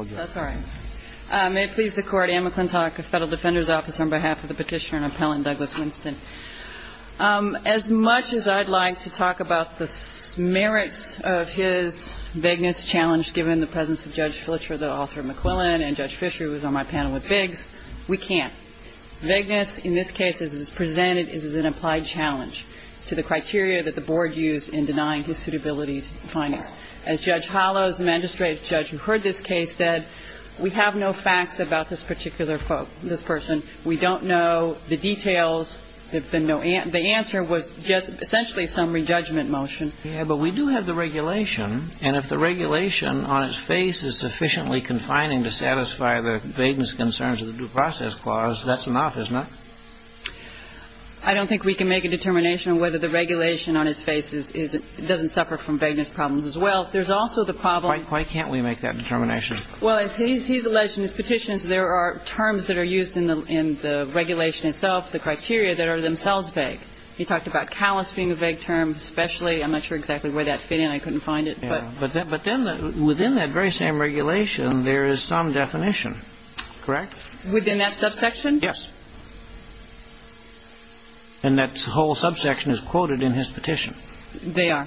May it please the Court, Anne McClintock, Federal Defender's Office, on behalf of the Petitioner and Appellant Douglas Winston. As much as I'd like to talk about the merits of his vagueness challenge, given the presence of Judge Fletcher, the author of McQuillan, and Judge Fisher, who was on my panel with Biggs, we can't. Vagueness in this case, as it is presented, is an applied challenge to the criteria that the Board used in denying his suitability findings. As Judge Hollows, an administrative judge who heard this case, said, we have no facts about this particular person. We don't know the details. The answer was just essentially some re-judgment motion. Yeah, but we do have the regulation. And if the regulation on its face is sufficiently confining to satisfy the vagueness concerns of the due process clause, that's enough, isn't it? I don't think we can make a determination on whether the regulation on his face is — doesn't suffer from vagueness problems as well. There's also the problem — Why can't we make that determination? Well, as he's alleged in his petitions, there are terms that are used in the regulation itself, the criteria, that are themselves vague. He talked about callous being a vague term, especially. I'm not sure exactly where that fit in. I couldn't find it. But then within that very same regulation, there is some definition. Correct? Within that subsection? Yes. And that whole subsection is quoted in his petition. They are.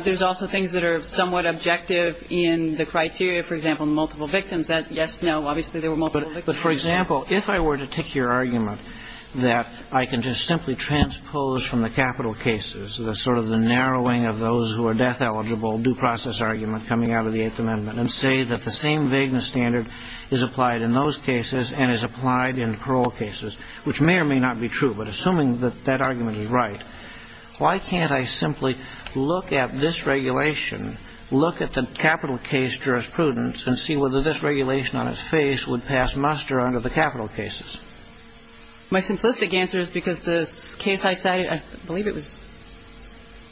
There's also things that are somewhat objective in the criteria. For example, multiple victims. Yes, no, obviously there were multiple victims. But, for example, if I were to take your argument that I can just simply transpose from the capital cases, the sort of the narrowing of those who are death-eligible due process argument coming out of the Eighth Amendment, and say that the same vagueness standard is applied in those cases and is applied in parole cases, which may or may not be true, but assuming that that argument is right, why can't I simply look at this regulation, look at the capital case jurisprudence, and see whether this regulation on its face would pass muster under the capital cases? My simplistic answer is because the case I cited, I believe it was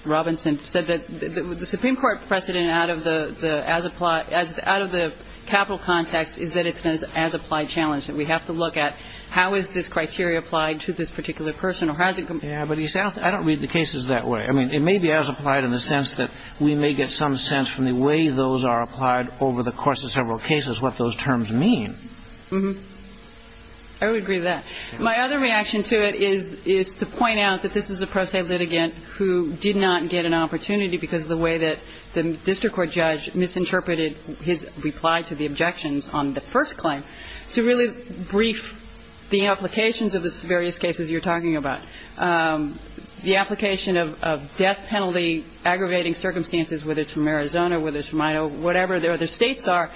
Robinson, said that the Supreme Court precedent out of the as-applied, out of the capital context is that it's an as-applied challenge, that we have to look at how is this criteria applied to this particular person or has it been? Yes, but I don't read the cases that way. I mean, it may be as-applied in the sense that we may get some sense from the way those are applied over the course of several cases what those terms mean. Mm-hmm. I would agree with that. My other reaction to it is to point out that this is a pro se litigant who did not get an opportunity because of the way that the district court judge misinterpreted his reply to the objections on the first claim to really brief the applications of the various cases you're talking about. The application of death penalty aggravating circumstances, whether it's from Arizona, whether it's from Idaho, whatever the other states are,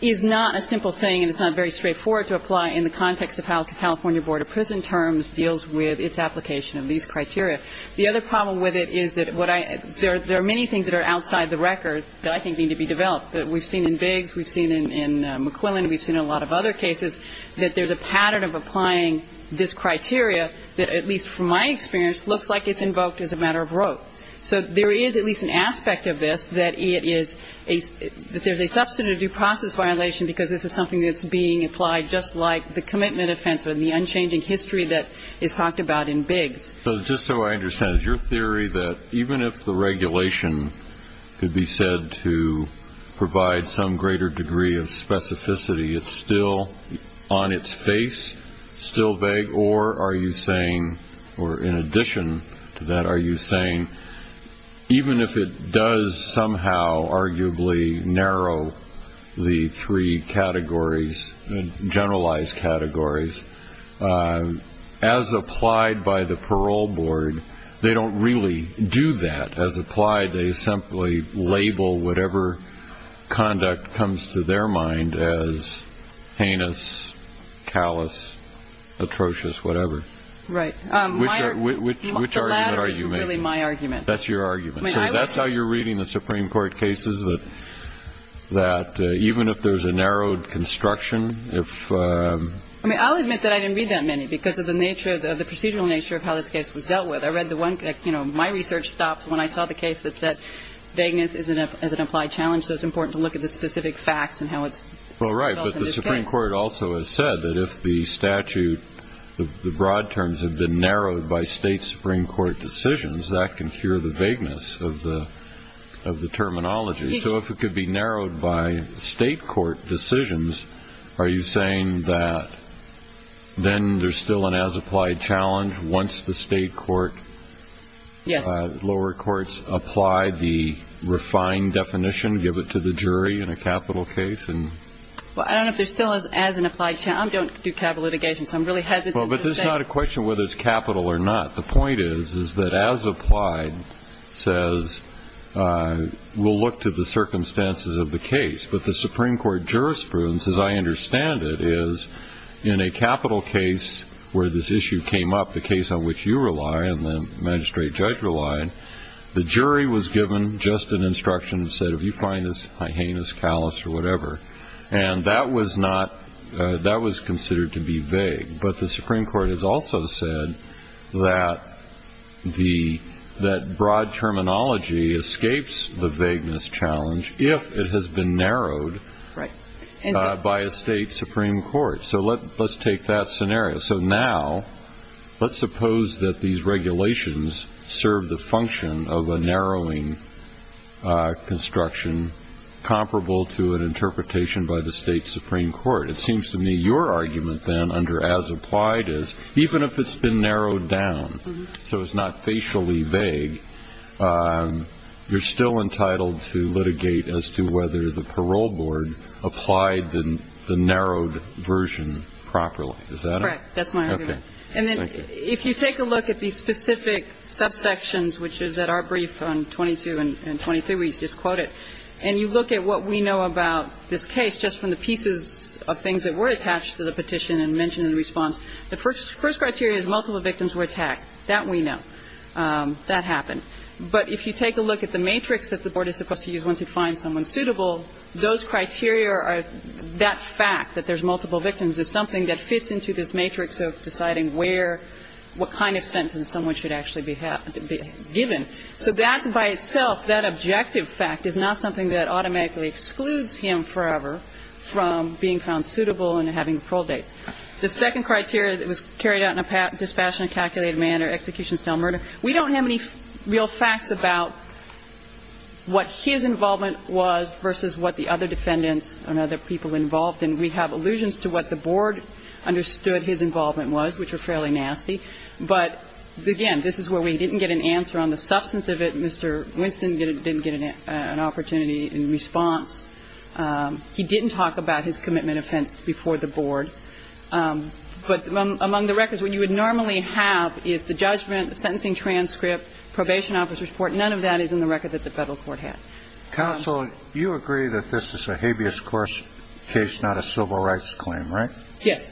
is not a simple thing and it's not very straightforward to apply in the context of how the California Board of Prison Terms deals with its application of these criteria. The other problem with it is that what I – there are many things that are outside the record that I think need to be developed. We've seen in Biggs, we've seen in McQuillan, we've seen in a lot of other cases that there's a pattern of applying this criteria that at least from my experience looks like it's invoked as a matter of rote. So there is at least an aspect of this that it is a – that there's a substantive due process violation because this is something that's being applied just like the commitment offense or the unchanging history that is talked about in Biggs. So just so I understand, is your theory that even if the regulation could be said to provide some greater degree of specificity, it's still on its face, still vague, or are you saying – or in addition to that, are you saying even if it does somehow arguably narrow the three categories, generalized categories, as applied by the parole board, they don't really do that. As applied, they simply label whatever conduct comes to their mind as heinous, callous, atrocious, whatever? Right. Which argument are you making? The latter is really my argument. That's your argument. So that's how you're reading the Supreme Court cases, that even if there's a narrowed construction, if – I mean, I'll admit that I didn't read that many because of the nature of the procedural nature of how this case was dealt with. I read the one – you know, my research stopped when I saw the case that said vagueness is an applied challenge, so it's important to look at the specific facts and how it's developed in this case. Well, right. But the Supreme Court also has said that if the statute, the broad terms have been of the terminology. So if it could be narrowed by state court decisions, are you saying that then there's still an as-applied challenge once the state court – Yes. Lower courts apply the refined definition, give it to the jury in a capital case? Well, I don't know if there's still an as-applied challenge. I don't do capital litigation, so I'm really hesitant to say. Well, but this is not a question of whether it's capital or not. The point is, is that as-applied says, we'll look to the circumstances of the case. But the Supreme Court jurisprudence, as I understand it, is in a capital case where this issue came up, the case on which you rely and the magistrate judge relied, the jury was given just an instruction and said, if you find this heinous, callous, or whatever. And that was not – that was considered to be vague. But the Supreme Court has also said that the – that broad terminology escapes the vagueness challenge if it has been narrowed by a state supreme court. So let's take that scenario. So now let's suppose that these regulations serve the function of a narrowing construction comparable to an interpretation by the state supreme court. It seems to me your argument, then, under as-applied is, even if it's been narrowed down so it's not facially vague, you're still entitled to litigate as to whether the parole board applied the narrowed version properly. Is that it? Correct. That's my argument. Okay. Thank you. And then if you take a look at these specific subsections, which is at our brief on 22 and 23, where you just quote it, and you look at what we know about this petition and mention in response, the first criteria is multiple victims were attacked. That we know. That happened. But if you take a look at the matrix that the board is supposed to use once it finds someone suitable, those criteria are – that fact that there's multiple victims is something that fits into this matrix of deciding where – what kind of sentence someone should actually be given. So that by itself, that objective fact, is not something that automatically excludes him forever from being found suitable and having a parole date. The second criteria that was carried out in a dispassionately calculated manner, execution-style murder, we don't have any real facts about what his involvement was versus what the other defendants and other people involved. And we have allusions to what the board understood his involvement was, which were fairly nasty. But, again, this is where we didn't get an answer on the substance of it. Mr. Winston didn't get an opportunity in response. He didn't talk about his commitment offense before the board. But among the records, what you would normally have is the judgment, the sentencing transcript, probation officer's report. None of that is in the record that the Federal court had. Counsel, you agree that this is a habeas corpus case, not a civil rights claim, right? Yes.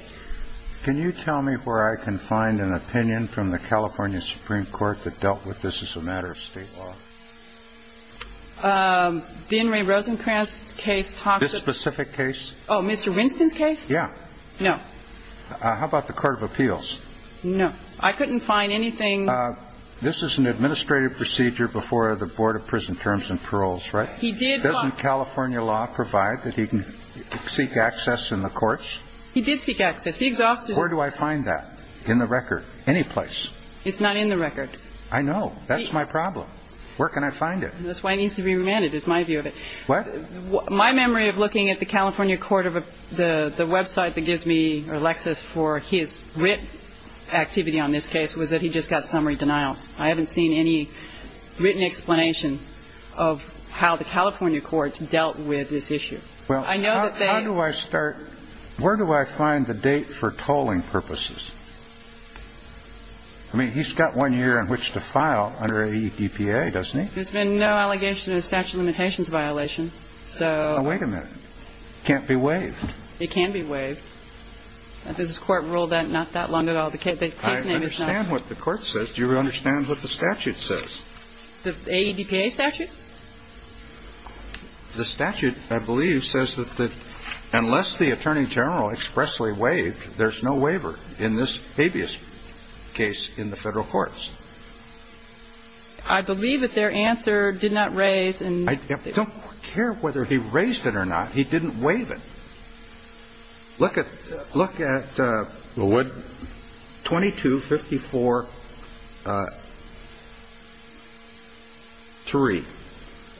Can you tell me where I can find an opinion from the California Supreme Court that the Board of Prison Terms and Paroles had an opinion? I'm not sure. It's not in the records. It's not in the records. Where can I find an opinion in the California Supreme Court? The Inmate Rosenkranz's case talks about the law. This specific case? Oh, Mr. Winston's case? Yeah. No. How about the Court of Appeals? No. I couldn't find anything. This is an administrative procedure before the Board of Prison Terms and Paroles, right? He did, but... Doesn't California law provide that he can seek access in the courts? He did seek access. He exhausted... Where do I find that? In the record. Anyplace. It's not in the record. I know. That's my problem. Where can I find it? That's why it needs to be remanded, is my view of it. What? My memory of looking at the California Court of... The website that gives me, or Lexis, for his written activity on this case was that he just got summary denials. I haven't seen any written explanation of how the California courts dealt with this issue. I know that they... How do I start... Where do I find the date for tolling purposes? I mean, he's got one year in which to file under a EPA, doesn't he? There's been no allegation of a statute of limitations violation, so... Oh, wait a minute. It can't be waived. It can be waived. This Court ruled that not that long ago. The case name is not... I understand what the Court says. Do you understand what the statute says? The AEDPA statute? The statute, I believe, says that unless the Attorney General expressly waived, there's no waiver in this habeas case in the federal courts. I believe that their answer did not raise... I don't care whether he raised it or not. He didn't waive it. Look at 2254-3.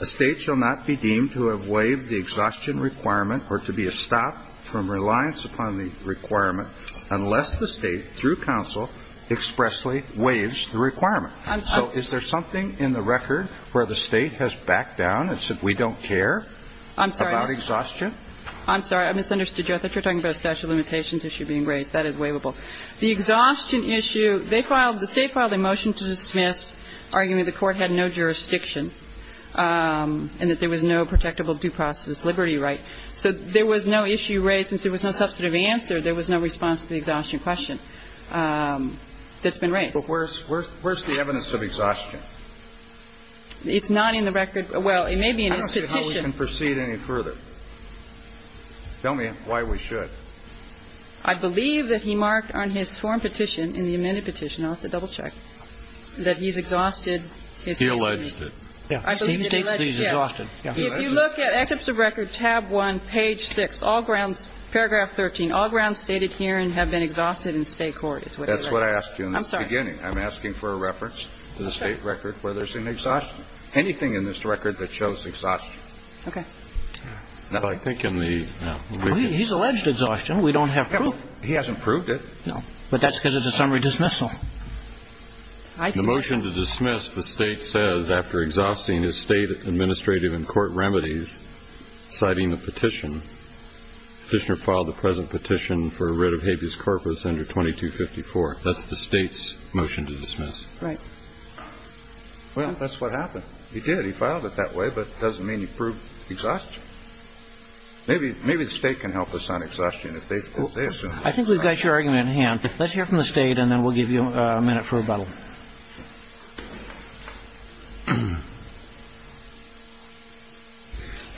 A state shall not be deemed to have waived the exhaustion requirement or to be a stop from reliance upon the requirement unless the state, through counsel, expressly waives the requirement. So is there something in the record where the state has backed down and said we don't care about exhaustion? I'm sorry. I misunderstood you. I thought you were talking about a statute of limitations issue being raised. That is waivable. The exhaustion issue, they filed the state filed a motion to dismiss, arguing the Court had no jurisdiction and that there was no protectable due process liberty right. So there was no issue raised. Since there was no substantive answer, there was no response to the exhaustion question that's been raised. But where's the evidence of exhaustion? It's not in the record. Well, it may be in his petition. I don't see how we can proceed any further. Tell me why we should. I believe that he marked on his form petition, in the amended petition. I'll have to double-check. That he's exhausted his... He alleged it. Yeah. He states he's exhausted. If you look at excerpts of record, tab 1, page 6, all grounds, paragraph 13, all grounds stated herein have been exhausted in State court. That's what I asked you in the beginning. I'm sorry. I'm asking for a reference to the State record where there's an exhaustion. Anything in this record that shows exhaustion. Okay. Now, I think in the... He's alleged exhaustion. We don't have proof. He hasn't proved it. No. But that's because it's a summary dismissal. The motion to dismiss, the State says, after exhausting his State administrative and court remedies, citing the petition, the Petitioner filed the present petition for a writ of habeas corpus under 2254. That's the State's motion to dismiss. Right. Well, that's what happened. He did. He filed it that way, but it doesn't mean he proved exhaustion. Maybe the State can help us on exhaustion if they assume... I think we've got your argument in hand. Let's hear from the State, and then we'll give you a minute for rebuttal.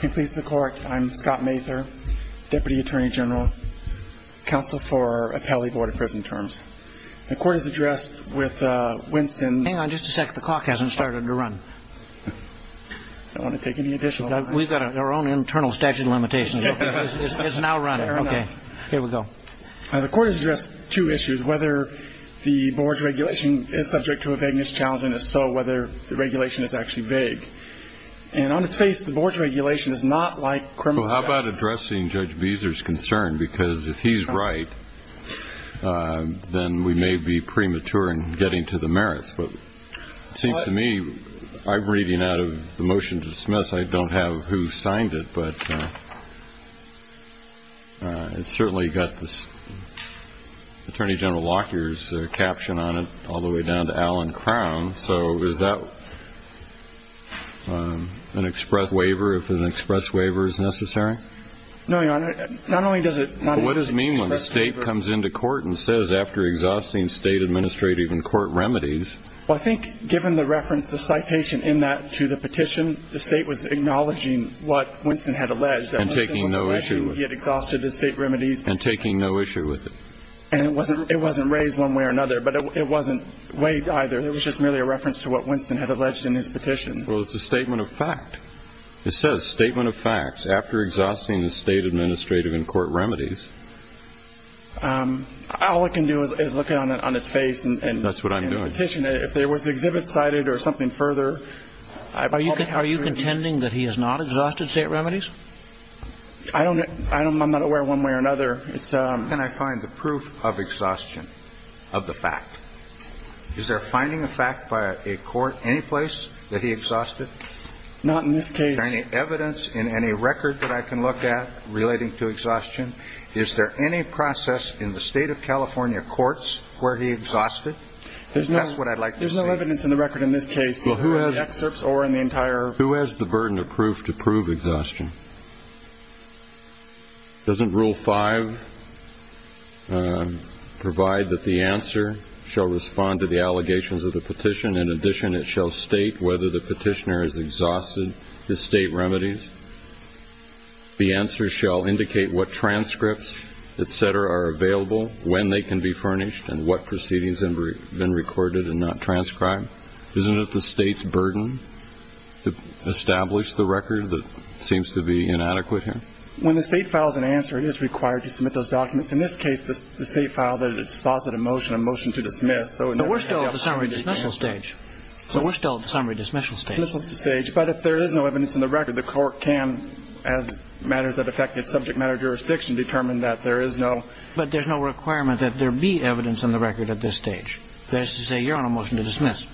I'm Scott Mather, Deputy Attorney General, Counsel for Appellee Board of Prison Terms. The court has addressed with Winston... Hang on just a sec. The clock hasn't started to run. I don't want to take any additional... We've got our own internal statute of limitations. It's now running. Fair enough. Okay. Here we go. The court has addressed two issues, whether the board's regulation is subject to a vagueness challenge, and if so, whether the regulation is actually vague. And on its face, the board's regulation is not like criminal... Well, how about addressing Judge Beezer's concern? Because if he's right, then we may be premature in getting to the merits. But it seems to me, I'm reading out of the motion to dismiss, I don't have who signed it, but it's certainly got this Attorney General Lockyer's caption on it all the way down to Alan Crown. So is that an express waiver, if an express waiver is necessary? No, Your Honor. Not only does it not... What does it mean when the state comes into court and says, after exhausting state administrative and court remedies... Well, I think given the reference, the citation in that to the petition, the state was acknowledging what Winston had alleged. And taking no issue with it. That Winston was alleging he had exhausted the state remedies. And taking no issue with it. And it wasn't raised one way or another, but it wasn't weighed either. It was just merely a reference to what Winston had alleged in his petition. Well, it's a statement of fact. It says, statement of facts, after exhausting the state administrative and court remedies. All it can do is look on its face and... That's what I'm doing. If there was exhibits cited or something further... Are you contending that he has not exhausted state remedies? I don't know. I'm not aware one way or another. Can I find the proof of exhaustion of the fact? Is there finding of fact by a court any place that he exhausted? Not in this case. Is there any evidence in any record that I can look at relating to exhaustion? Is there any process in the state of California courts where he exhausted? That's what I'd like to see. There's no evidence in the record in this case. Well, who has... In the excerpts or in the entire... Who has the burden of proof to prove exhaustion? Doesn't Rule 5 provide that the answer shall respond to the allegations of the petition? In addition, it shall state whether the petitioner has exhausted the state remedies. The answer shall indicate what transcripts, et cetera, are available, when they can be furnished, and what proceedings have been recorded and not transcribed. Isn't it the state's burden to establish the record that seems to be inadequate here? When the state files an answer, it is required to submit those documents. In this case, the state filed a dispositive motion, a motion to dismiss. But we're still at the summary dismissal stage. But we're still at the summary dismissal stage. But if there is no evidence in the record, the court can, as matters that affect its subject matter jurisdiction, determine that there is no... But there's no requirement that there be evidence in the record at this stage. That is to say, you're on a motion to dismiss.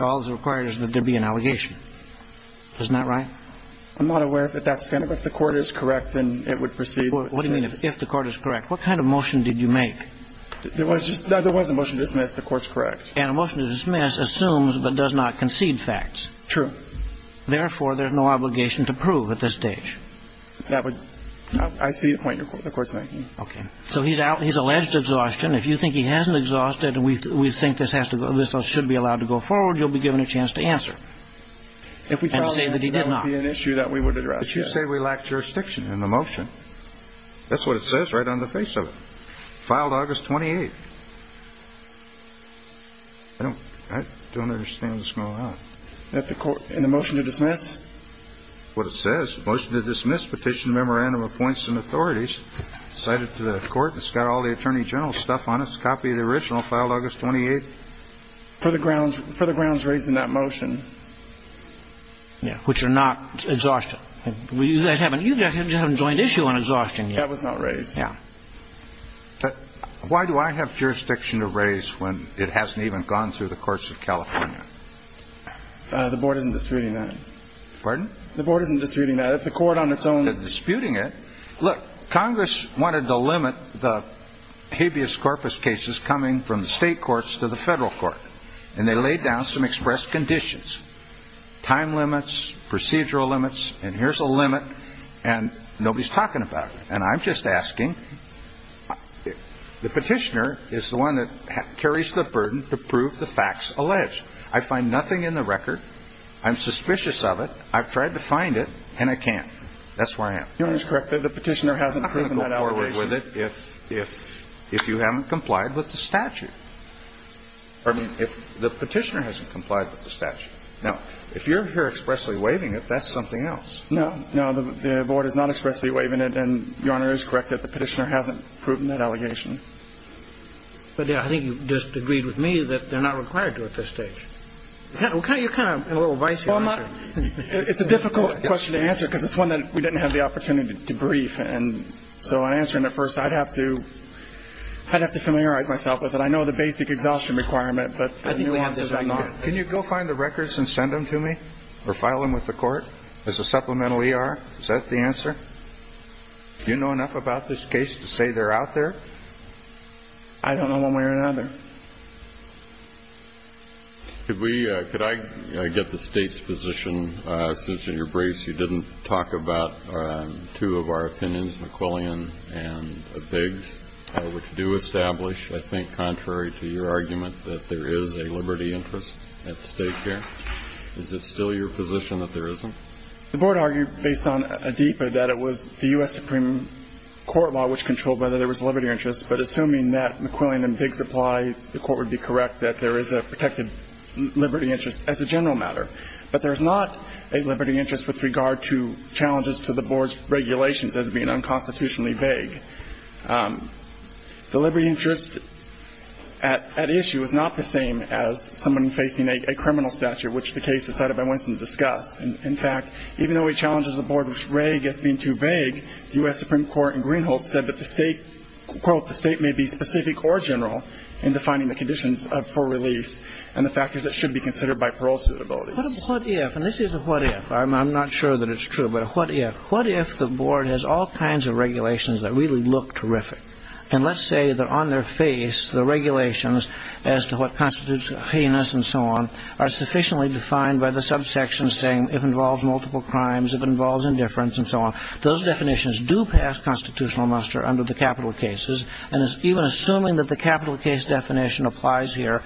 All that's required is that there be an allegation. Isn't that right? I'm not aware that that's the case. If the Court is correct, then it would proceed... What do you mean, if the Court is correct? What kind of motion did you make? There was a motion to dismiss. The Court's correct. And a motion to dismiss assumes but does not concede facts. True. Therefore, there's no obligation to prove at this stage. That would... I see the point the Court's making. Okay. So he's out. He's alleged exhaustion. If you think he hasn't exhausted and we think this should be allowed to go forward, you'll be given a chance to answer and say that he did not. That would be an issue that we would address, yes. But you say we lack jurisdiction in the motion. That's what it says right on the face of it. Filed August 28th. I don't understand what's going on. In the motion to dismiss? What it says, motion to dismiss, petition, memorandum of points and authorities. It's cited to the Court. It's got all the Attorney General stuff on it. It's a copy of the original filed August 28th. For the grounds raised in that motion. Yeah, which are not exhaustion. You guys haven't joined issue on exhaustion yet. That was not raised. Yeah. Why do I have jurisdiction to raise when it hasn't even gone through the courts of California? The Board isn't disputing that. Pardon? The Board isn't disputing that. The Court on its own... Look, Congress wanted to limit the habeas corpus cases coming from the state courts to the federal court. And they laid down some express conditions. Time limits, procedural limits, and here's a limit, and nobody's talking about it. And I'm just asking. The petitioner is the one that carries the burden to prove the facts alleged. I find nothing in the record. I'm suspicious of it. I've tried to find it, and I can't. That's where I am. Your Honor is correct. The petitioner hasn't proven that allegation. I can't go forward with it if you haven't complied with the statute. Pardon me? The petitioner hasn't complied with the statute. Now, if you're here expressly waiving it, that's something else. No. No, the Board is not expressly waiving it. And Your Honor is correct that the petitioner hasn't proven that allegation. But, yeah, I think you just agreed with me that they're not required to at this stage. You're kind of a little vice here. It's a difficult question to answer because it's one that we didn't have the opportunity to brief. And so in answering it first, I'd have to familiarize myself with it. I know the basic exhaustion requirement, but the new answers are not. Can you go find the records and send them to me or file them with the court as a supplemental ER? Is that the answer? Do you know enough about this case to say they're out there? I don't know one way or another. Could I get the State's position, since in your briefs you didn't talk about two of our opinions, McQuillian and Biggs, which do establish, I think, contrary to your argument, that there is a liberty interest at stake here. Is it still your position that there isn't? The Board argued based on ADEPA that it was the U.S. Supreme Court law which controlled whether there was liberty interest. But assuming that McQuillian and Biggs apply, the Court would be correct that there is a protected liberty interest as a general matter. But there's not a liberty interest with regard to challenges to the Board's regulations as being unconstitutionally vague. The liberty interest at issue is not the same as someone facing a criminal statute, which the case is cited by Winston to discuss. In fact, even though it challenges the Board as being too vague, the U.S. Supreme Court in Greenhold said that the State, quote, the State may be specific or general in defining the conditions for release and the factors that should be considered by parole suitability. What if, and this is a what if, I'm not sure that it's true, but a what if, what if the Board has all kinds of regulations that really look terrific, and let's say that on their face the regulations as to what constitutes heinous and so on are sufficiently defined by the subsection saying it involves multiple crimes, it involves indifference and so on. Those definitions do pass constitutional muster under the capital cases, and it's even assuming that the capital case definition applies here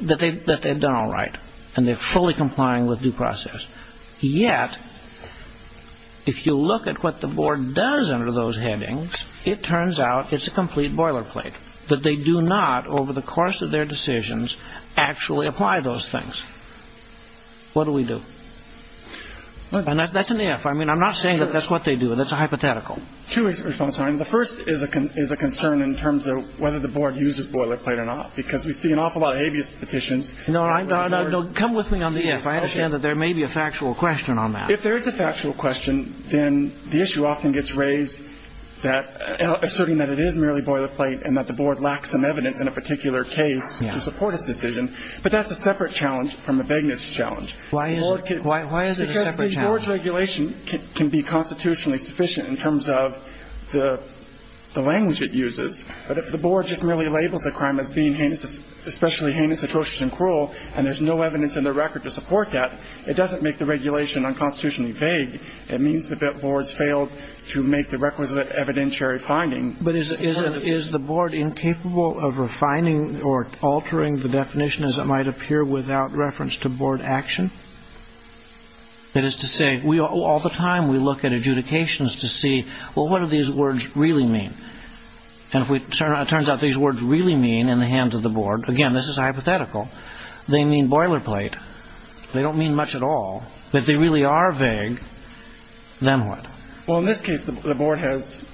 that they've done all right and they're fully complying with due process. Yet, if you look at what the Board does under those headings, it turns out it's a complete boilerplate, that they do not over the course of their decisions actually apply those things. What do we do? And that's an if. I mean, I'm not saying that that's what they do. That's a hypothetical. Two response, Your Honor. The first is a concern in terms of whether the Board uses boilerplate or not, because we see an awful lot of habeas petitions. No, no, no. Come with me on the if. I understand that there may be a factual question on that. If there is a factual question, then the issue often gets raised that, asserting that it is merely boilerplate and that the Board lacks some evidence in a particular case to support its decision. But that's a separate challenge from the Begnitz challenge. Why is it a separate challenge? Because the Board's regulation can be constitutionally sufficient in terms of the language it uses. But if the Board just merely labels a crime as being heinous, especially heinous, atrocious and cruel, and there's no evidence in the record to support that, it doesn't make the regulation unconstitutionally vague. It means that the Board's failed to make the requisite evidentiary finding. But is the Board incapable of refining or altering the definition as it might appear without reference to Board action? That is to say, all the time we look at adjudications to see, well, what do these words really mean? And if it turns out these words really mean, in the hands of the Board, again, this is hypothetical, they mean boilerplate. They don't mean much at all. If they really are vague, then what? Well, in this case, the Board has,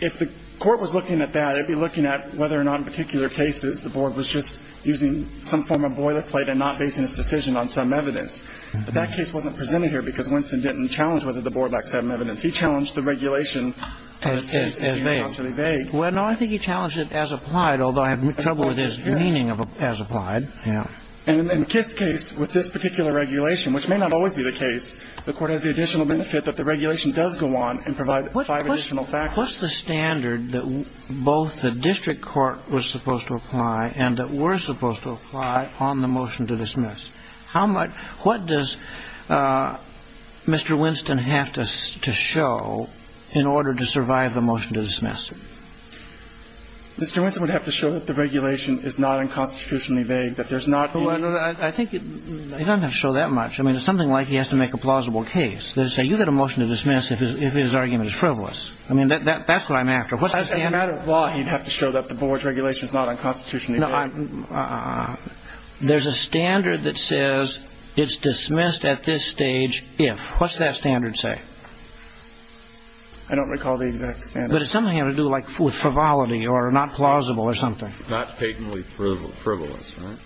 if the court was looking at that, it would be looking at whether or not in particular cases the Board was just using some form of boilerplate and not basing its decision on some evidence. But that case wasn't presented here because Winston didn't challenge whether the Board lacks some evidence. He challenged the regulation. As vague. Unconstitutionally vague. Well, no, I think he challenged it as applied, although I have trouble with his meaning of as applied. Yeah. And in Kiss' case, with this particular regulation, which may not always be the case, the Court has the additional benefit that the regulation does go on and provide five additional factors. What's the standard that both the district court was supposed to apply and that were supposed to apply on the motion to dismiss? How much – what does Mr. Winston have to show in order to survive the motion to dismiss? Mr. Winston would have to show that the regulation is not unconstitutionally vague, that there's not any – Well, I think it doesn't have to show that much. I mean, it's something like he has to make a plausible case. Let's say you get a motion to dismiss if his argument is frivolous. I mean, that's what I'm after. What's the standard? As a matter of law, he'd have to show that the board's regulation is not unconstitutionally vague. No. There's a standard that says it's dismissed at this stage if. What's that standard say? I don't recall the exact standard. But it's something to do, like, with frivolity or not plausible or something. Not patently frivolous, right?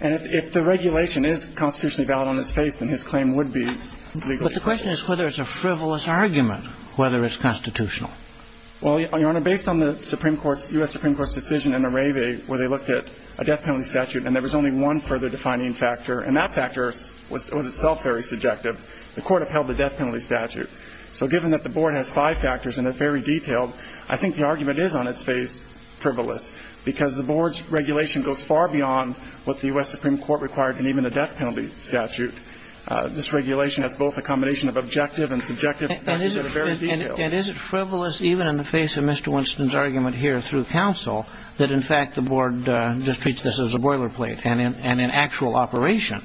And if the regulation is constitutionally valid on his face, then his claim would be legally frivolous. But the question is whether it's a frivolous argument, whether it's constitutional. Well, Your Honor, based on the Supreme Court's – U.S. Supreme Court's decision in Areve, where they looked at a death penalty statute and there was only one further defining factor, and that factor was itself very subjective, the Court upheld the death penalty statute. So given that the board has five factors and they're very detailed, I think the argument is on its face frivolous, because the board's regulation goes far beyond what the U.S. Supreme Court required in even the death penalty statute. This regulation has both a combination of objective and subjective factors that are very detailed. And is it frivolous even in the face of Mr. Winston's argument here through counsel that, in fact, the board just treats this as a boilerplate, and in actual operation,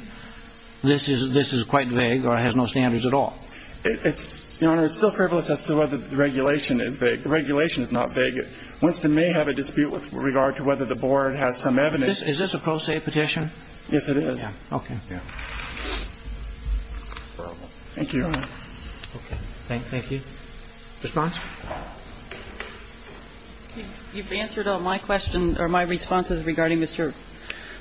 this is quite vague or has no standards at all? It's – Your Honor, it's still frivolous as to whether the regulation is vague. The regulation is not vague. Winston may have a dispute with regard to whether the board has some evidence. Is this a pro se petition? Yes, it is. Okay. Thank you. Thank you, Your Honor. Okay. Thank you. Response? You've answered all my questions or my responses regarding Mr.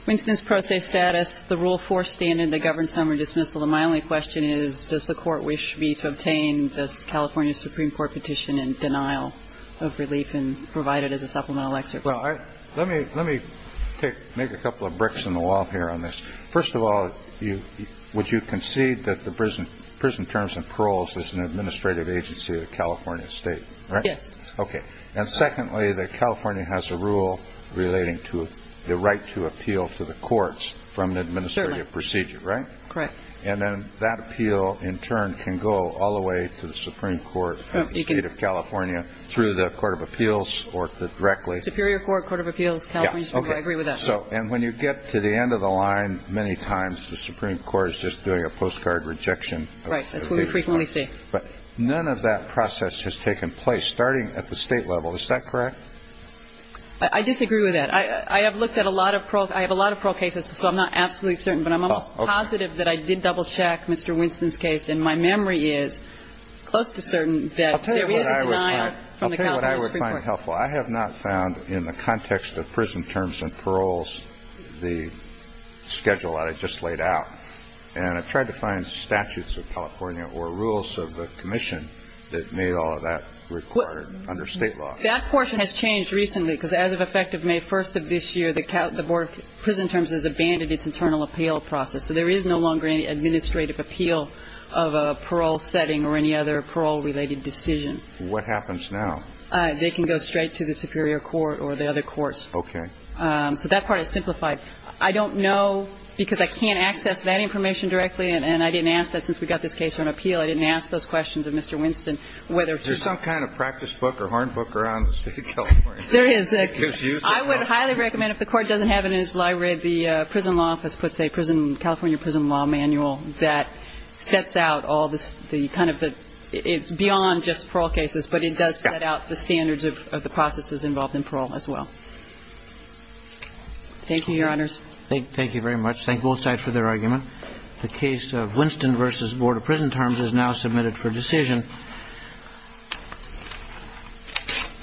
Winston's pro se status, the Rule 4 standard that governs summary dismissal, and my only question is, does the Court wish me to obtain this California Supreme Court petition in denial of relief and provide it as a supplemental excerpt? Well, let me – let me take – make a couple of bricks in the wall here on this. First of all, you – would you concede that the prison – prison terms and paroles is an administrative agency of the California State, right? Yes. Okay. And secondly, that California has a rule relating to the right to appeal to the courts from an administrative procedure, right? Certainly. Correct. And then that appeal, in turn, can go all the way to the Supreme Court of the State of California through the Court of Appeals or directly. Superior Court, Court of Appeals, California Supreme Court. I agree with that. And so – and when you get to the end of the line many times, the Supreme Court is just doing a postcard rejection. Right. That's what we frequently see. But none of that process has taken place, starting at the State level. Is that correct? I disagree with that. I have looked at a lot of parole – I have a lot of parole cases, so I'm not absolutely certain, but I'm almost positive that I did double-check Mr. Winston's case, and my memory is close to certain that there is a denial from the California Supreme Court. Well, that's very helpful. I have not found in the context of prison terms and paroles the schedule that I just laid out. And I tried to find statutes of California or rules of the commission that made all of that required under State law. That portion has changed recently, because as of effect of May 1st of this year, the Board of Prison Terms has abandoned its internal appeal process. So there is no longer any administrative appeal of a parole setting or any other parole-related decision. What happens now? They can go straight to the superior court or the other courts. Okay. So that part is simplified. I don't know, because I can't access that information directly, and I didn't ask that since we got this case on appeal. I didn't ask those questions of Mr. Winston whether to – There's some kind of practice book or horn book around the State of California that gives you – There is. I would highly recommend, if the Court doesn't have it in its library, the prison law office puts a prison – California prison law manual that sets out all the kind of the – it's beyond just parole cases, but it does set out the standards of the processes involved in parole as well. Thank you, Your Honors. Thank you very much. Thank both sides for their argument. The case of Winston v. Board of Prison Terms is now submitted for decision.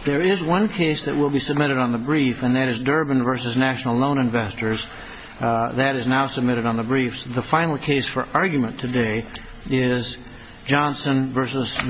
There is one case that will be submitted on the brief, and that is Durbin v. National Loan Investors. That is now submitted on the brief. The final case for argument today is Johnson v. Knowles.